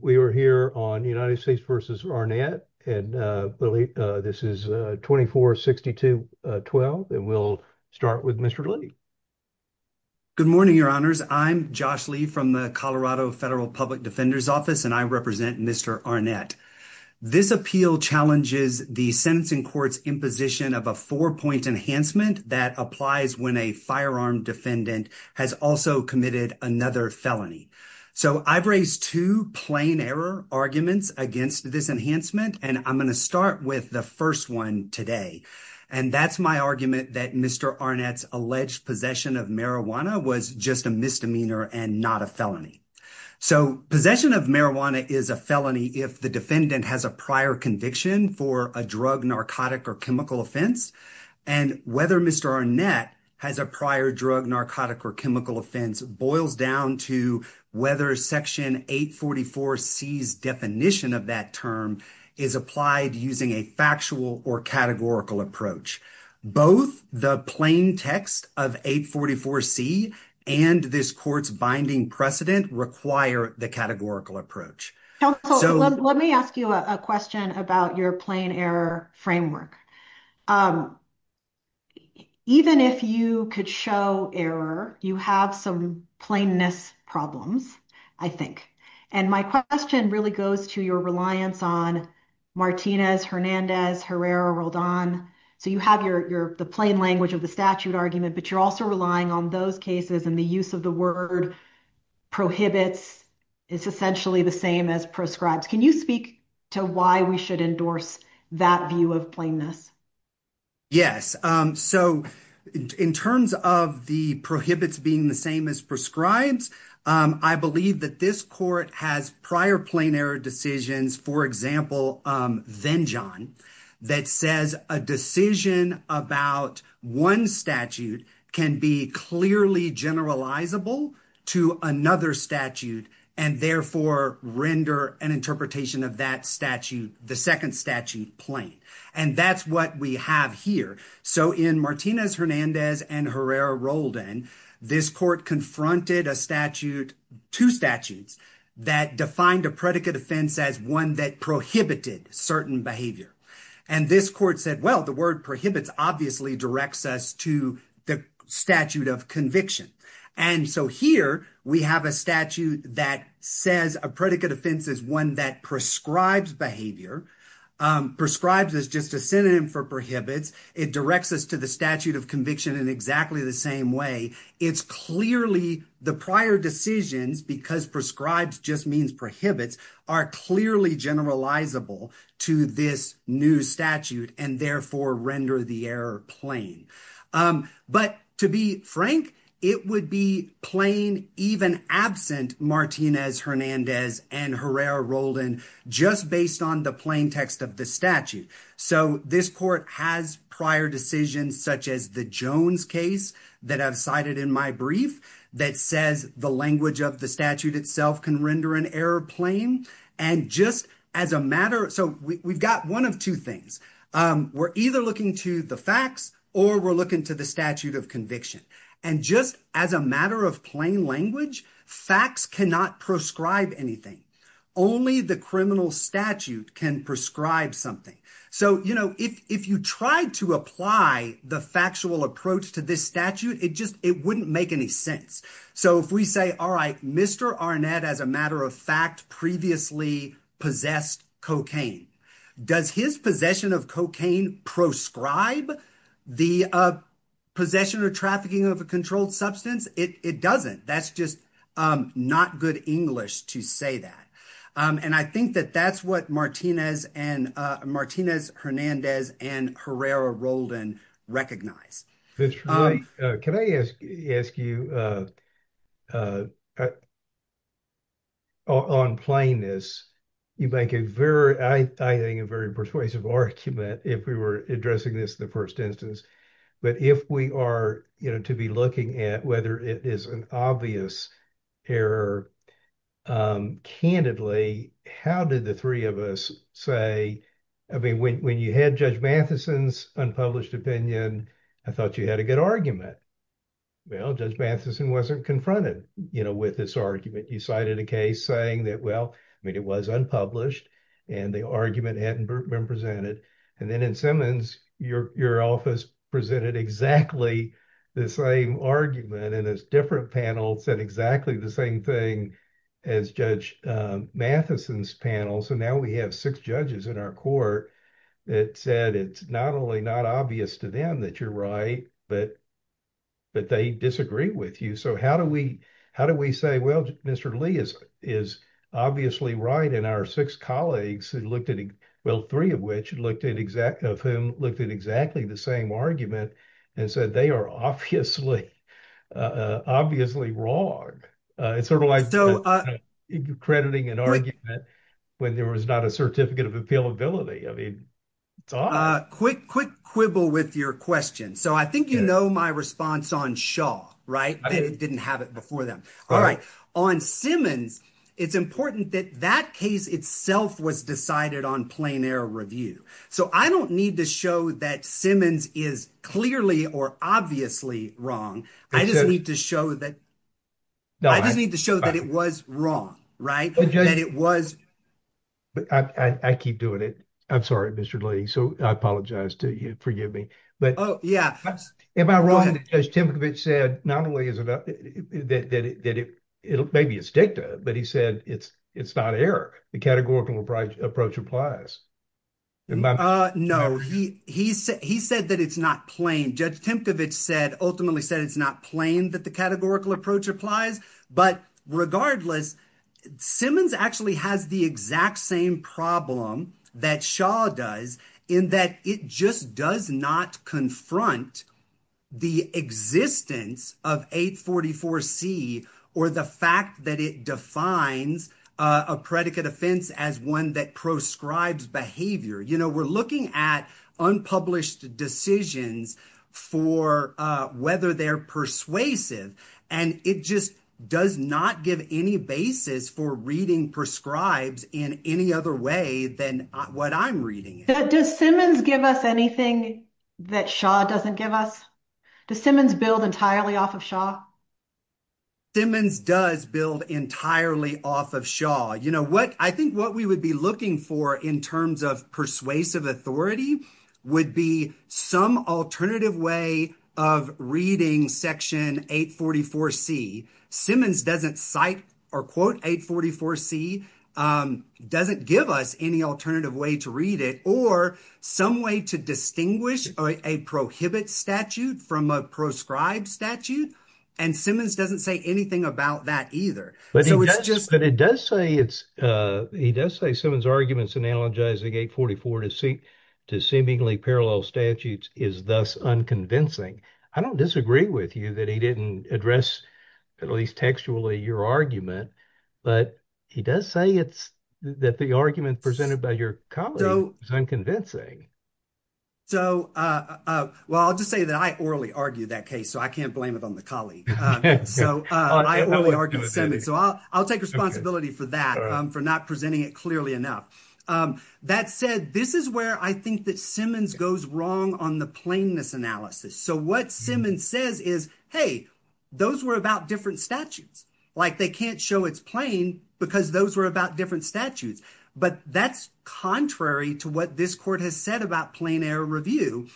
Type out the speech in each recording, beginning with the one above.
We are here on United States v. Arnett and this is 24-62-12 and we'll start with Mr. Lee. Good morning, your honors. I'm Josh Lee from the Colorado Federal Public Defender's Office and I represent Mr. Arnett. This appeal challenges the sentencing court's imposition of a four-point enhancement that applies when a firearm defendant has also committed another felony. So I've raised two plain error arguments against this enhancement and I'm going to start with the first one today and that's my argument that Mr. Arnett's alleged possession of marijuana was just a misdemeanor and not a felony. So possession of marijuana is a felony if the defendant has a prior conviction for a drug, narcotic, or chemical offense and whether Mr. Arnett has a prior drug, narcotic, or chemical offense boils down to whether Section 844C's definition of that term is applied using a factual or categorical approach. Both the plain text of 844C and this court's binding precedent require the categorical approach. Let me ask you a question about your plain error framework. Even if you could show error, you have some plainness problems, I think, and my question really goes to your reliance on Martinez, Hernandez, Herrera, Roldan. So you have the plain language of the statute argument but you're also relying on those cases and the use of the word prohibits is essentially the same as prescribes. Can you speak to why we should endorse that view of plainness? Yes, so in terms of the prohibits being the same as prescribes, I believe that this court has prior plain error decisions, for example, Venjan, that says a decision about one statute can be clearly generalizable to another statute and therefore render an interpretation of that statute, the second statute, plain. And that's what we have here. So in Martinez, Hernandez, and Herrera, Roldan, this court confronted a statute, two statutes, that defined a predicate offense as one that prohibited certain behavior. And this court said, well, the word prohibits obviously directs us to the statute of conviction. And so here we have a statute that says a predicate offense is one that prescribes behavior, prescribes is just a synonym for prohibits. It directs us to the statute of exactly the same way. It's clearly the prior decisions because prescribes just means prohibits are clearly generalizable to this new statute and therefore render the error plain. But to be frank, it would be plain even absent Martinez, Hernandez, and Herrera, Roldan, just based on the plain text of the statute. So this court has prior decisions such as the Jones case that I've cited in my brief that says the language of the statute itself can render an error plain. And just as a matter, so we've got one of two things. We're either looking to the facts or we're looking to the statute of conviction. And just as a matter of plain language, facts cannot prescribe anything. Only the criminal statute can prescribe something. So if you tried to apply the factual approach to this statute, it wouldn't make any sense. So if we say, all right, Mr. Arnett as a matter of fact previously possessed cocaine, does his possession of cocaine prescribe the possession or trafficking of a controlled substance? It doesn't. That's just not good English to say that. And I think that that's what Martinez, Hernandez, and Herrera, Roldan recognize. That's right. Can I ask you on plainness, you make a very, I think a very persuasive argument if we were addressing this first instance. But if we are to be looking at whether it is an obvious error, candidly, how did the three of us say, I mean, when you had Judge Matheson's unpublished opinion, I thought you had a good argument. Well, Judge Matheson wasn't confronted with this argument. You cited a case saying that, well, I mean, it was unpublished and the argument hadn't been presented. And then in Simmons, your office presented exactly the same argument. And as different panels said exactly the same thing as Judge Matheson's panel. So now we have six judges in our court that said, it's not only not obvious to them that you're right, but they disagree with you. So how do we say, well, Mr. Lee is obviously right. And our six colleagues who looked at, well, three of which looked at exactly, of whom looked at exactly the same argument and said, they are obviously wrong. It's sort of like crediting an argument when there was not a certificate of appealability. I mean, it's odd. Quick quibble with your question. So I think, you know, my response on Shaw, right? They didn't have it before them. All right. On Simmons, it's important that that case itself was decided on plein air review. So I don't need to show that Simmons is clearly or obviously wrong. I just need to show that it was wrong, right? But I keep doing it. I'm sorry, Mr. Lee. So I apologize to you. Forgive me. Oh, yeah. Am I wrong that Judge Timkovich said, not only is it, that it may be a stick to it, but he said it's not air. The categorical approach applies. No, he said that it's not plain. Judge Timkovich said, ultimately said it's not plain that the categorical approach applies. But regardless, Simmons actually has the exact same problem that Shaw does in that it just does not confront the existence of 844C or the fact that it defines a predicate offense as one that proscribes behavior. You know, we're looking at unpublished decisions for whether they're persuasive. And it just does not give any basis for reading proscribes in any other way than what I'm reading. Does Simmons give us anything that Shaw doesn't give us? Does Simmons build entirely off of Shaw? Simmons does build entirely off of Shaw. You know what? I think what we would be looking for in terms of persuasive authority would be some alternative way of reading Section 844C. Simmons doesn't cite or quote 844C, doesn't give us any alternative way to read it or some way to distinguish a prohibit statute from a proscribed statute. And Simmons doesn't say anything about that either. But it does say it's, he does say Simmons' arguments in analogizing 844 to seemingly parallel statutes is thus unconvincing. I don't disagree with you that he didn't address textually your argument, but he does say it's that the argument presented by your colleague is unconvincing. So, well, I'll just say that I orally argued that case, so I can't blame it on the colleague. So, I'll take responsibility for that, for not presenting it clearly enough. That said, this is where I think that Simmons goes wrong on the plainness analysis. So, what Simmons says is, hey, those were about different statutes. Like they can't show it's plain because those were about different statutes. But that's contrary to what this court has said about plain error review.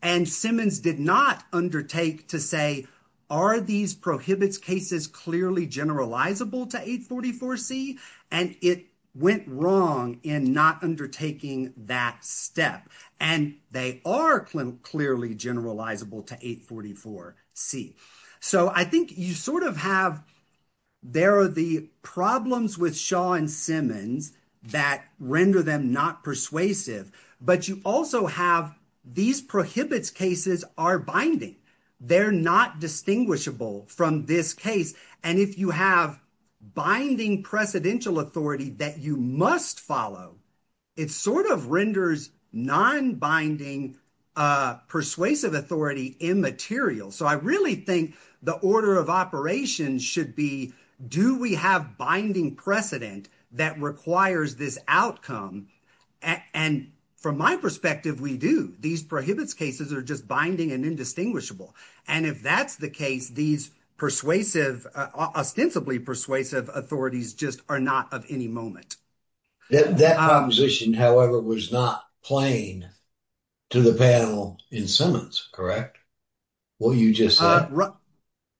And Simmons did not undertake to say, are these prohibits cases clearly generalizable to 844C? And it went wrong in not undertaking that step. And they are clearly generalizable to 844C. So, I think you sort of have, there are the problems with Shaw and Simmons that render them not persuasive, but you also have these prohibits cases are binding. They're not distinguishable from this case. And if you have binding precedential authority that you must follow, it sort of renders non-binding persuasive authority immaterial. So, I really think the order of operations should be, do we have binding precedent that requires this outcome? And from my perspective, we do. These prohibits cases are just binding and indistinguishable. And if that's the case, these ostensibly persuasive authorities just are not of any moment. That proposition, however, was not plain to the panel in Simmons, correct? What you just said.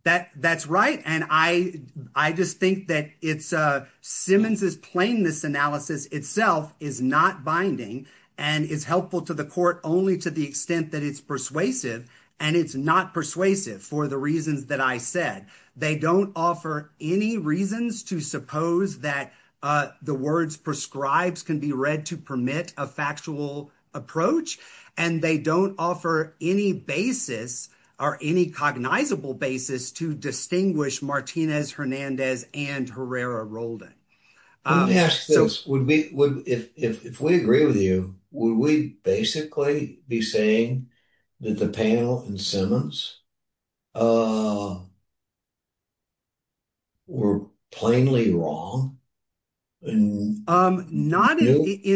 That's right. And I just think that Simmons' plainness analysis itself is not binding and is helpful to the court only to the extent that it's persuasive. And it's not persuasive for the reasons that I said. They don't offer any reasons to suppose that the words prescribes can be read to permit a factual approach. And they don't offer any basis or any cognizable basis to distinguish Martinez, Hernandez, and Herrera-Roldan. If we agree with you, would we basically be saying that the panel in Simmons were plainly wrong? In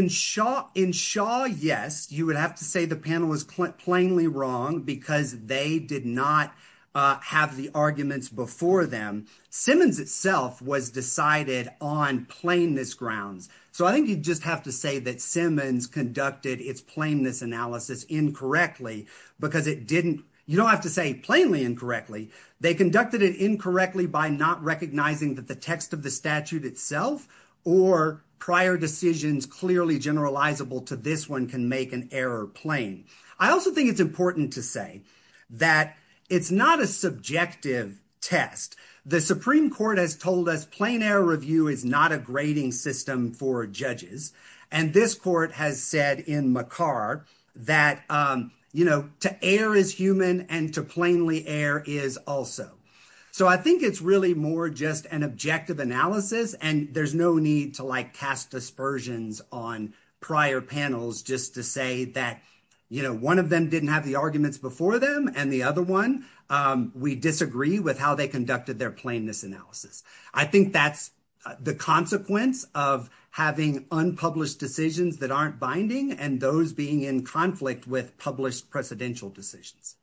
Shaw, yes. You would have to say the panel was plainly wrong because they did not have the arguments before them. Simmons itself was decided on plainness grounds. So I think you'd just have to say that Simmons conducted its plainness analysis incorrectly because it didn't. You don't have to say plainly incorrectly. They conducted it incorrectly by not recognizing that the text of the statute itself or prior decisions clearly generalizable to this one can make an error plain. I also think it's important to say that it's not a subjective test. The Supreme Court has told us plain error review is not a grading system for judges. And this court has said in McCarr that, you know, to err is human and to plainly err is also. So I think it's really more just an objective analysis. And there's no need to, like, cast dispersions on prior panels just to say that, you know, one of them didn't have the arguments before them and the other one, we disagree with how they conducted their plainness analysis. I think that's the consequence of having unpublished decisions that aren't binding and those being in conflict with published precedential decisions.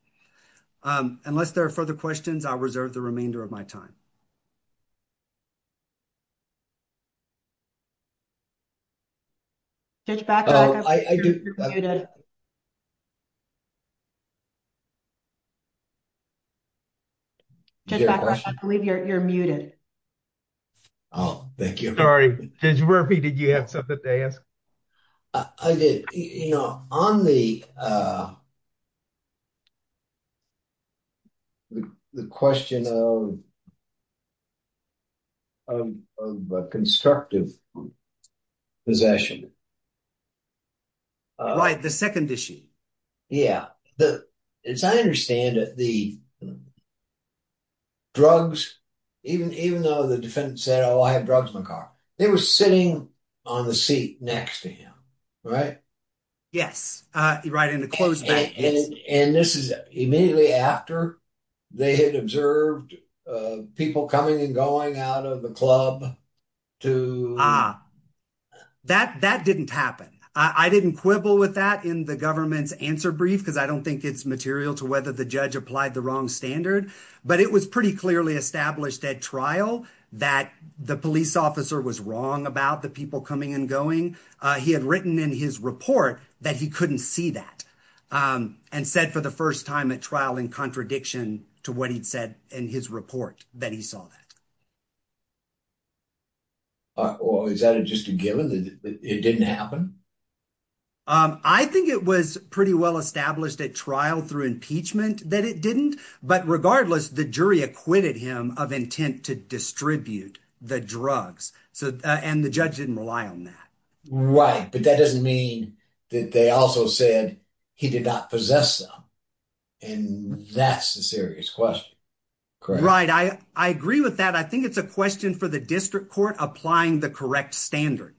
Unless there are further questions, I'll reserve the remainder of my time. Judge Bacow, I believe you're muted. Oh, thank you. Sorry. Judge Murphy, did you have something to ask? I did. You know, on the the question of of constructive possession. Right. The second issue. Yeah. As I understand it, the drugs, even though the defendant said, oh, I have drugs in my car, they were sitting on the seat next to him, right? Yes. Right. And this is immediately after they had observed people coming and going out of the club to. That that didn't happen. I didn't quibble with that in the government's answer brief, because I don't think it's material to whether the judge applied the wrong standard. But it was pretty clearly established at trial that the police officer was wrong about the people coming and going. He had written in his report that he couldn't see that and said for the first time at trial in contradiction to what he'd said in his report that he saw that. Is that just a given that it didn't happen? I think it was pretty well established at trial through impeachment that it didn't. But regardless, the jury acquitted him of intent to distribute the drugs. So and the judge didn't rely on that. Right. But that doesn't mean that they also said he did not possess them. And that's a serious question. Right. I agree with that. I think it's a question for the district court applying the correct standard.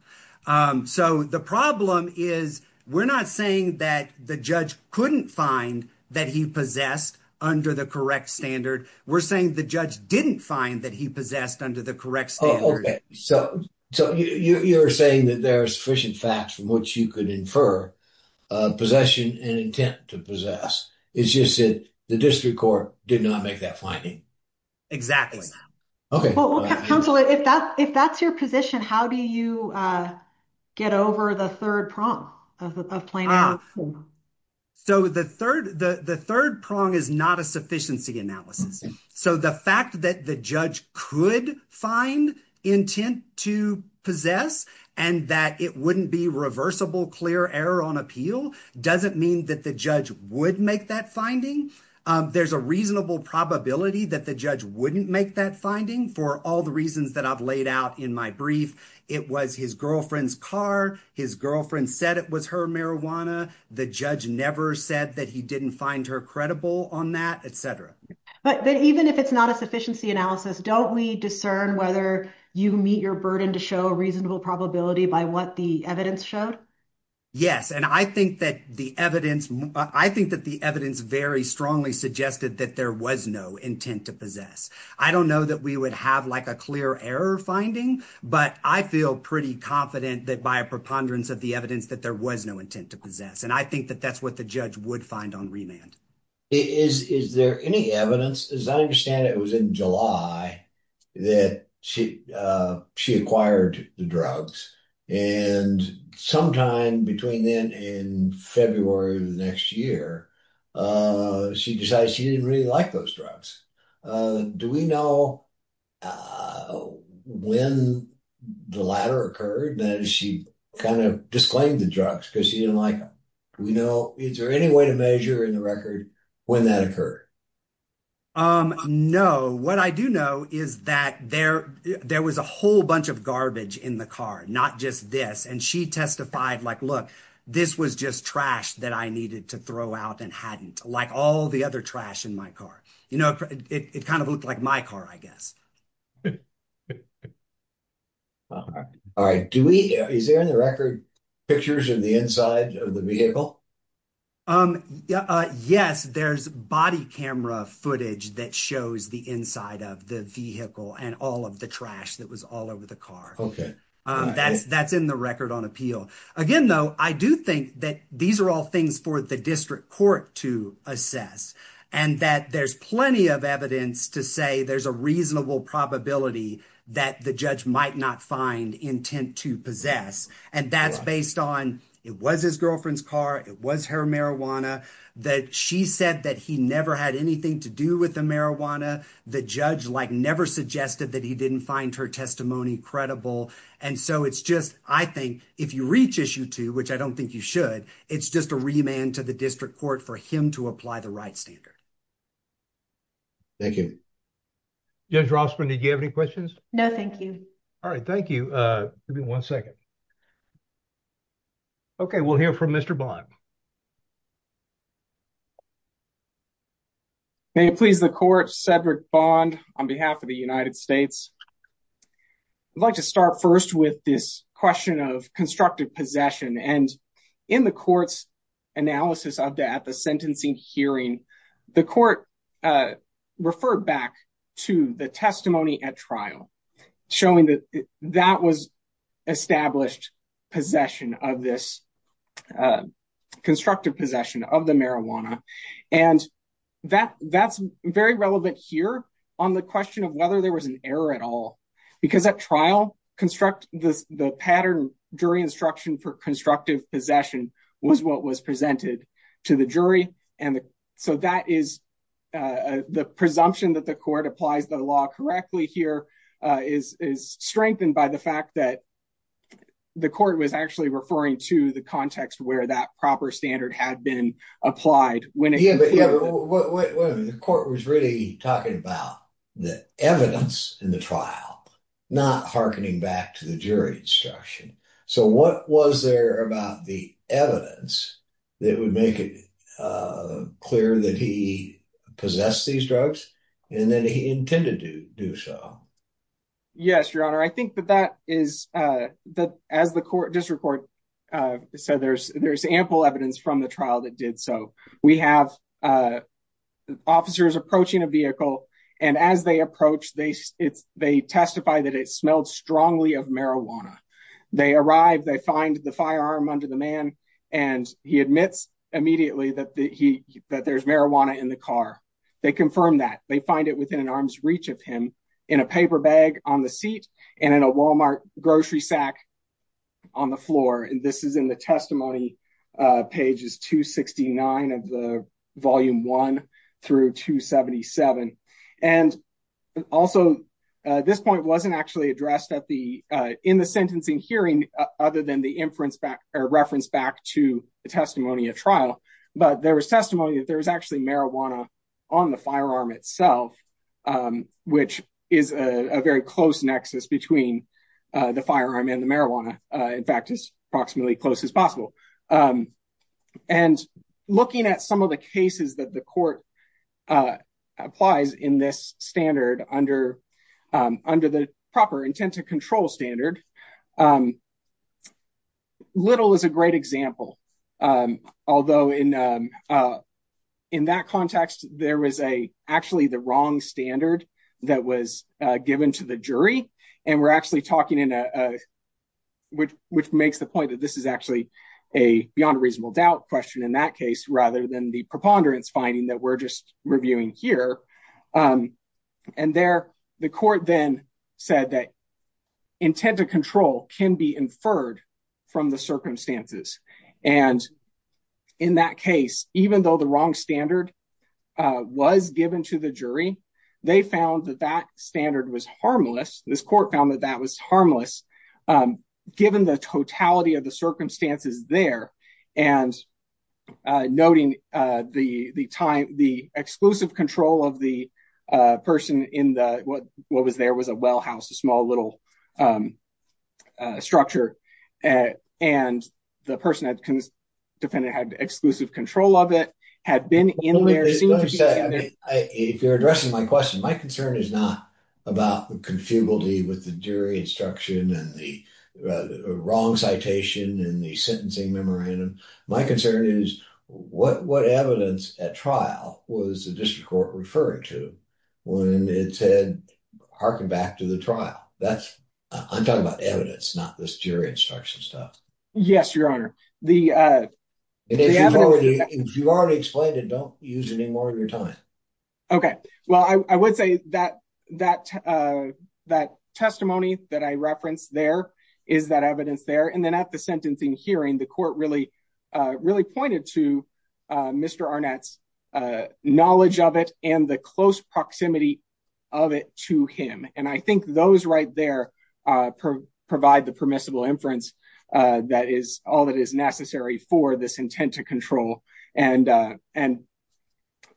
So the problem is we're not saying that the judge couldn't find that he possessed under the correct standard. We're saying the judge didn't find that he possessed under the correct standard. So you're saying that there are sufficient facts from which you could infer possession and intent to possess. It's just that the district court did not make that finding. Exactly. Okay. Well, counsel, if that's your position, how do you get over the third prong of planning? So the third the third prong is not a sufficiency analysis. So the fact that the judge could find intent to possess and that it wouldn't be reversible, clear error on appeal doesn't mean that the judge would make that finding. There's a reasonable probability that the judge wouldn't make that finding for all the reasons that I've laid out in my brief. It was his girlfriend's car. His girlfriend said it was her marijuana. The judge never said that he didn't find her credible on that, etc. But even if it's not a sufficiency analysis, don't we discern whether you meet your burden to show a reasonable probability by what the evidence showed? Yes. And I think that the evidence I think that the evidence very strongly suggested that there was no intent to possess. I don't know that we would have like a clear error finding, but I feel pretty confident that by a preponderance of the evidence that there was no intent to possess. And I think that that's what the judge would find on remand. Is there any evidence? As I understand it, it was in July that she acquired the drugs. And sometime between then and February of the next year, she decided she didn't really like those drugs. Do we know when the latter occurred? Then she kind of disclaimed the drugs because she didn't like them. We know. Is there any way to measure in the record when that occurred? Um, no. What I do know is that there there was a whole bunch of garbage in the car, not just this. And she testified like, look, this was just trash that I needed to throw out and hadn't like all the other trash in my car. You know, it kind of looked like my car, I guess. All right. Do we is there any record pictures of the inside of the vehicle? Um, yes, there's body camera footage that shows the inside of the vehicle and all of the trash that was all over the car. OK, that's that's in the record on appeal. Again, though, I do think that these are all things for the district court to assess and that there's plenty of evidence to say there's a reasonable probability that the judge might not find intent to possess. And that's it was his girlfriend's car. It was her marijuana that she said that he never had anything to do with the marijuana. The judge, like, never suggested that he didn't find her testimony credible. And so it's just I think if you reach issue two, which I don't think you should, it's just a remand to the district court for him to apply the right standard. Thank you. Judge Rossman, did you have any questions? No, thank you. All right. Thank you. Give me one second. OK, we'll hear from Mr. Bond. May it please the court, Cedric Bond on behalf of the United States. I'd like to start first with this question of constructive possession. And in the court's analysis of that, the sentencing hearing, the court referred back to the testimony at trial, showing that that was established possession of this constructive possession of the marijuana. And that that's very relevant here on the question of whether there was an error at all, because at trial construct the pattern during instruction for constructive possession was what was presented to the jury. And so that is the presumption that the court applies the law correctly here is strengthened by the fact that the court was actually referring to the context where that proper standard had been applied when it was really talking about the evidence in the trial, not hearkening back to the jury instruction. So what was there about the evidence that would make it clear that he possessed these drugs and that he intended to do so? Yes, your honor, I think that that is that as the court district court said, there's there's ample evidence from the trial that did so. We have officers approaching a vehicle and as they approach, they it's they testify that it smelled strongly of marijuana. They arrive, they find the firearm under the man and he admits immediately that he that there's marijuana in the car. They confirm that they find it within an arm's reach of him in a paper bag on the seat and in a Walmart grocery sack on the floor. And this is in the testimony pages to sixty nine of the volume one through to seventy seven. And also this point wasn't actually addressed at the in the sentencing hearing other than the inference back or reference back to the testimony of trial. But there was testimony that there was actually marijuana on the firearm itself, which is a very close nexus between the firearm and the marijuana. In fact, it's approximately close as possible. And looking at some of the cases that the court applies in this standard under under the proper intent to standard. Little is a great example, although in in that context, there was a actually the wrong standard that was given to the jury. And we're actually talking in a which which makes the point that this is actually a beyond reasonable doubt question in that case rather than the preponderance finding that we're just reviewing here. And there the court then said that intent to control can be inferred from the circumstances. And in that case, even though the wrong standard was given to the jury, they found that that standard was harmless. This court found that that was harmless given the totality of the circumstances there. And noting the the time, the exclusive control of the person in the what what was there was a well house, a small little structure. And the person that comes defendant had exclusive control of it had been in there. If you're addressing my question, my concern is not about the confugality with the jury instruction and the wrong citation and the sentencing memorandum. My concern is what what evidence at trial was the district court referring to when it said harken back to the trial? That's I'm talking about evidence, not this jury instruction stuff. Yes, your honor. The if you already explained it, don't use any more of your time. OK, well, I would say that that that testimony that I referenced there is that evidence there. And then at the sentencing hearing, the court really, really pointed to Mr. Arnett's knowledge of it and the close proximity of it to him. And I think those right there provide the permissible inference that is all that is necessary for this intent to control. And and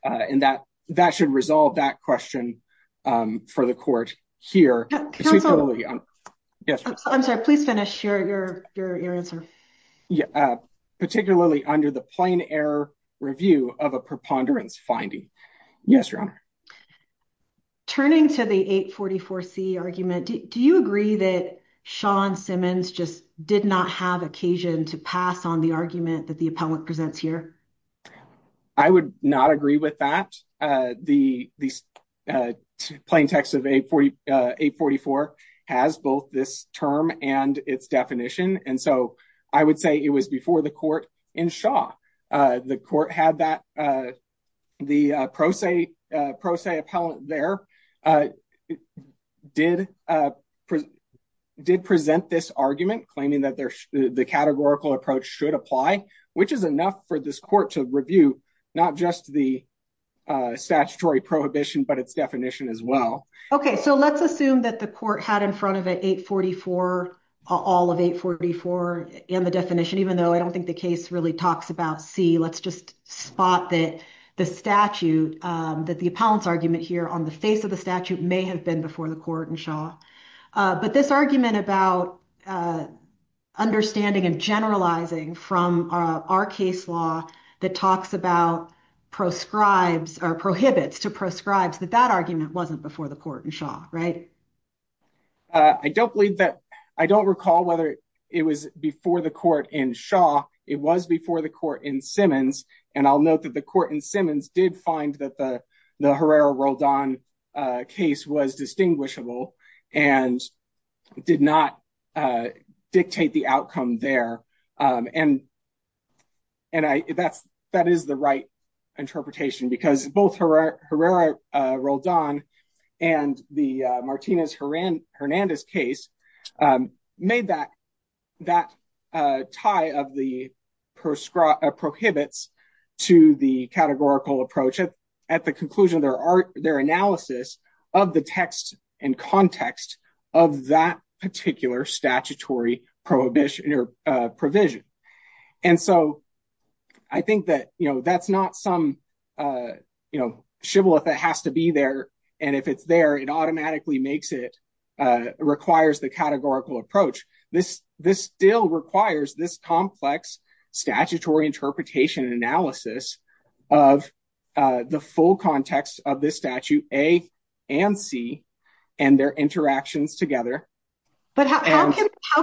and that that should resolve that question for the court here. I'm sorry, please finish your your answer. Yeah, particularly under the plain error review of a preponderance finding. Yes, your honor. Turning to the 844 C argument, do you agree that Sean Simmons just did not have occasion to pass on the argument that the appellant presents here? I would not agree with that. The plain text of 844 has both this term and its definition. And so I would say it was before the court in Shaw. The court had that the pro se pro se appellant there did did present this argument, claiming that the categorical approach should apply, which is enough for this court to review, not just the statutory prohibition, but its definition as well. OK, so let's assume that the court had in front of it 844, all of 844 and the definition, even though I don't think the case really talks about C. Let's just spot that the statute that the appellant's argument here on the face of the statute may have been before the court in Shaw. But this argument about understanding and generalizing from our case law that talks about proscribes or prohibits to proscribes that that argument wasn't before the court in Shaw, right? I don't believe that I don't recall whether it was before the court in Shaw. It was before the court in Simmons. And I'll note that the court in Simmons did find that the Herrera-Roldan case was distinguishable and did not dictate the outcome there. And. And that's that is the right interpretation, because both Herrera-Roldan and the Martinez-Hernandez case made that that tie of the prohibits to the categorical approach at the conclusion of their analysis of the text and context of that particular statutory prohibition or provision. And so I think that that's not some shibboleth that has to be there. And if it's there, it automatically makes it requires the categorical approach. This this still requires this complex statutory interpretation and analysis of the full context of this statute A and C and their interactions together. But how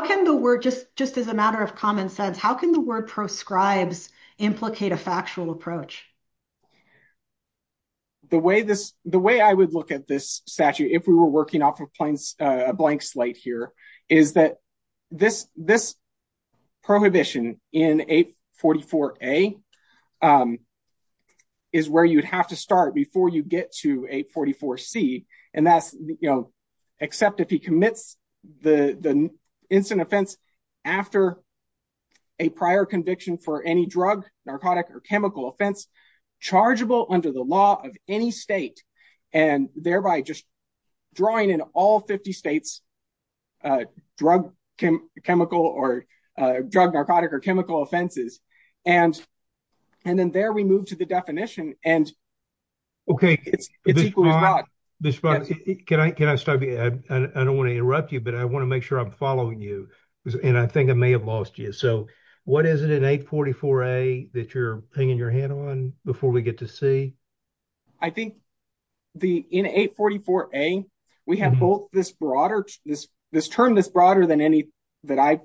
can the word just just as a matter of common sense, how can the word proscribes implicate a factual approach? The way this the way I would look at this statute, if we were working off of a blank slate here, is that this this prohibition in 844A is where you'd have to start before you get to 844C. And that's, you know, except if he commits the instant offense after a prior conviction for any drug, narcotic or chemical offense chargeable under the law of any state, and thereby just drawing in all 50 states drug, chemical or drug, narcotic or chemical offenses. And and then there we move to the definition and. OK, it's it's equal to this. But can I can I start? I don't want to interrupt you, but I want to make sure I'm following you. And I think I may have lost you. So what is it in 844A that you're hanging your hand on before we get to C? I think the in 844A, we have both this broader this this term, this broader than any that I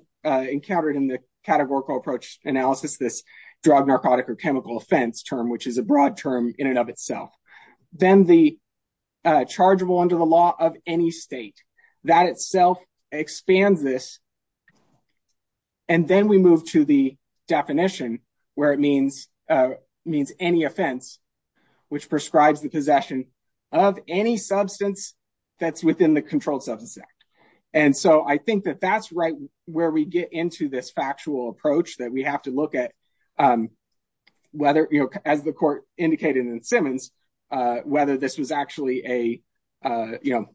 encountered in the categorical approach analysis, this drug, narcotic or chemical offense term, which is a broad term in and of itself. Then the chargeable under the law of any state that itself expands this. And then we move to the definition where it means means any offense. Which prescribes the possession of any substance that's within the Controlled Substance Act. And so I think that that's right where we get into this factual approach that we have to look at. Whether you know, as the court indicated in Simmons, whether this was actually a, you know,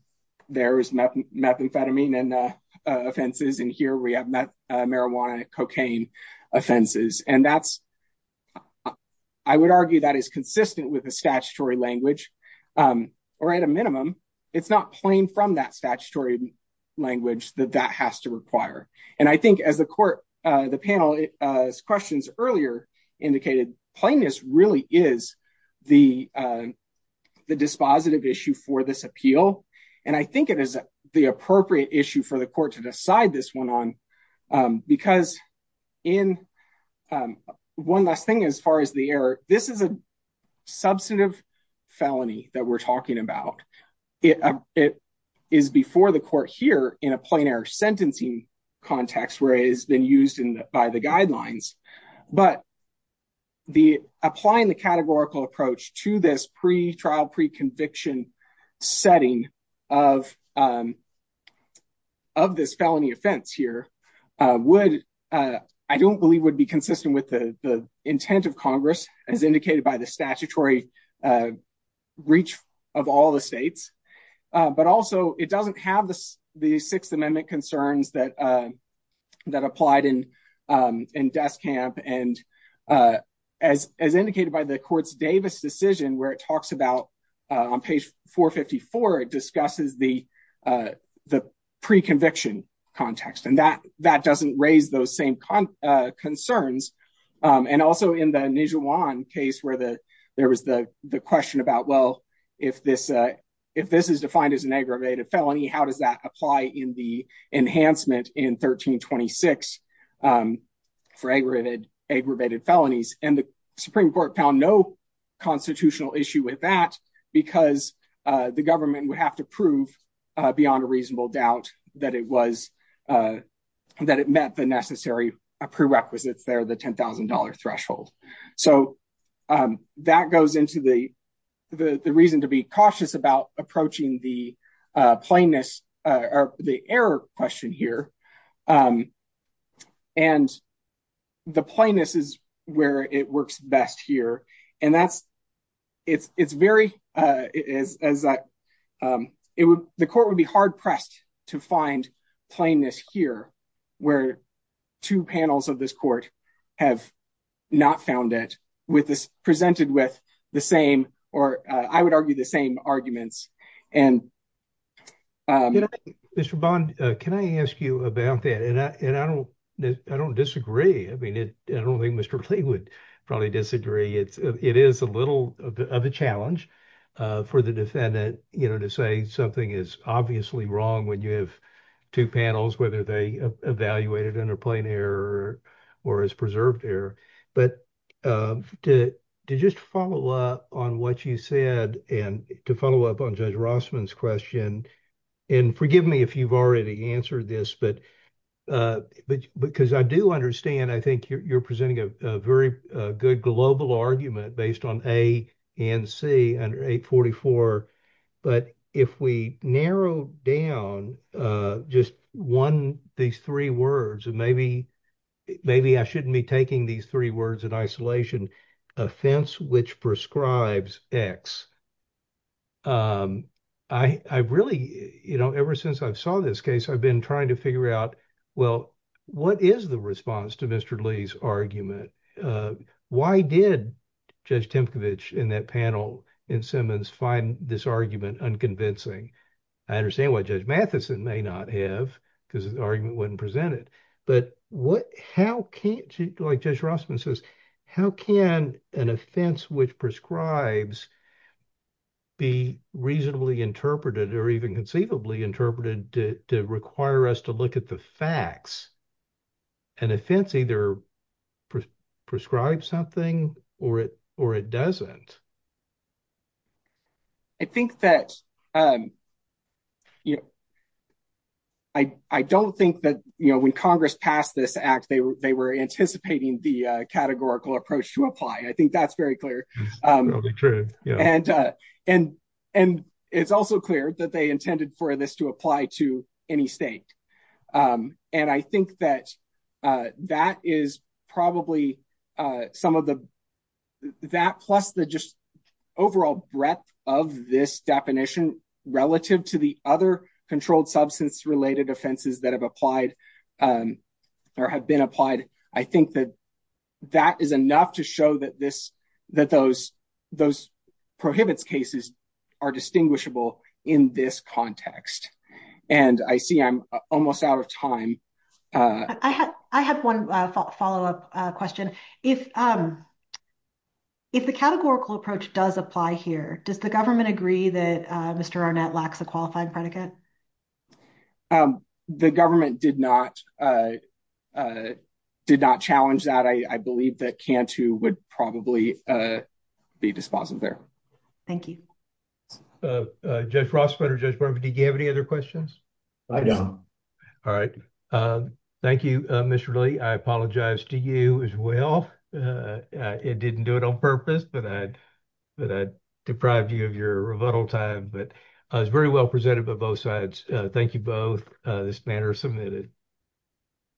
there is methamphetamine and offenses. And here we have met marijuana, cocaine offenses. And that's I would argue that is consistent with the statutory language or at a minimum. It's not plain from that statutory language that that has to require. And I think as the court, the panel questions earlier indicated, plainness really is the dispositive issue for this appeal. And I think it is the appropriate issue for the court to decide this one on. Because in one last thing, as far as the error, this is a substantive felony that we're talking about. It is before the court here in a plain air sentencing context where it has been used by the guidelines. But the applying the categorical approach to this trial pre-conviction setting of this felony offense here would I don't believe would be consistent with the intent of Congress, as indicated by the statutory reach of all the states. But also, it doesn't have the Sixth Amendment concerns that applied in death camp. And as as indicated by the court's Davis decision where it talks about on page 454, it discusses the the pre-conviction context and that that doesn't raise those same concerns. And also in the case where the there was the question about, well, if this if this is defined as an aggravated felony, how does that apply in the enhancement in 1326? For aggravated aggravated felonies and the Supreme Court found no constitutional issue with that because the government would have to prove beyond a reasonable doubt that it was that it met the necessary prerequisites there, the ten thousand dollar threshold. So that goes into the the reason to be cautious about approaching the plainness or the error question here. And the plainness is where it works best here. And that's it's it's very as that it would the court would be hard pressed to find plainness here where two panels of this court have not found it with this presented with the same or I would argue the same arguments. And Mr. Bond, can I ask you about that? And I don't I don't disagree. I mean, it I don't think Mr. Lee would probably disagree. It's it is a little of a challenge for the defendant to say something is obviously wrong when you have two panels, whether they evaluated under plain error or as preserved error. But to just follow up on what you said and to follow up on Judge Rossman's question and forgive me if you've already answered this, but because I do understand, I think you're presenting a very good global argument based on A and C and 844. But if we narrow down just one these three words, maybe maybe I shouldn't be taking these words in isolation, offense, which prescribes X. I really, you know, ever since I saw this case, I've been trying to figure out, well, what is the response to Mr. Lee's argument? Why did Judge Tempkowicz in that panel in Simmons find this argument unconvincing? I understand what Judge Matheson may not have because the argument wasn't presented. But what, how can, like Judge Rossman says, how can an offense which prescribes be reasonably interpreted or even conceivably interpreted to require us to look at the facts? An offense either prescribes something or it or it doesn't. I think that, you know, I don't think that, you know, when Congress passed this act, they were they were anticipating the categorical approach to apply. I think that's very clear. And and and it's also clear that they intended for this to apply to any state. And I think that that is probably some of the that plus the just overall breadth of this definition relative to the other controlled substance related offenses that have applied or have been applied. I think that that is enough to show that this that those those prohibits cases are distinguishable in this context. And I see I'm almost out of time. I have one follow up question. If if the categorical approach does apply here, does the government agree that Mr. Arnett lacks a qualified predicate? The government did not did not challenge that. I believe that Cantu would probably be dispositive there. Thank you. Judge Rossman, did you have any other questions? I don't. All right. Thank you, Mr. Lee. I apologize to you as well. It didn't do it on purpose, but I but I deprived you of your rebuttal time. But I was very well presented by both sides. Thank you both. This matter is submitted.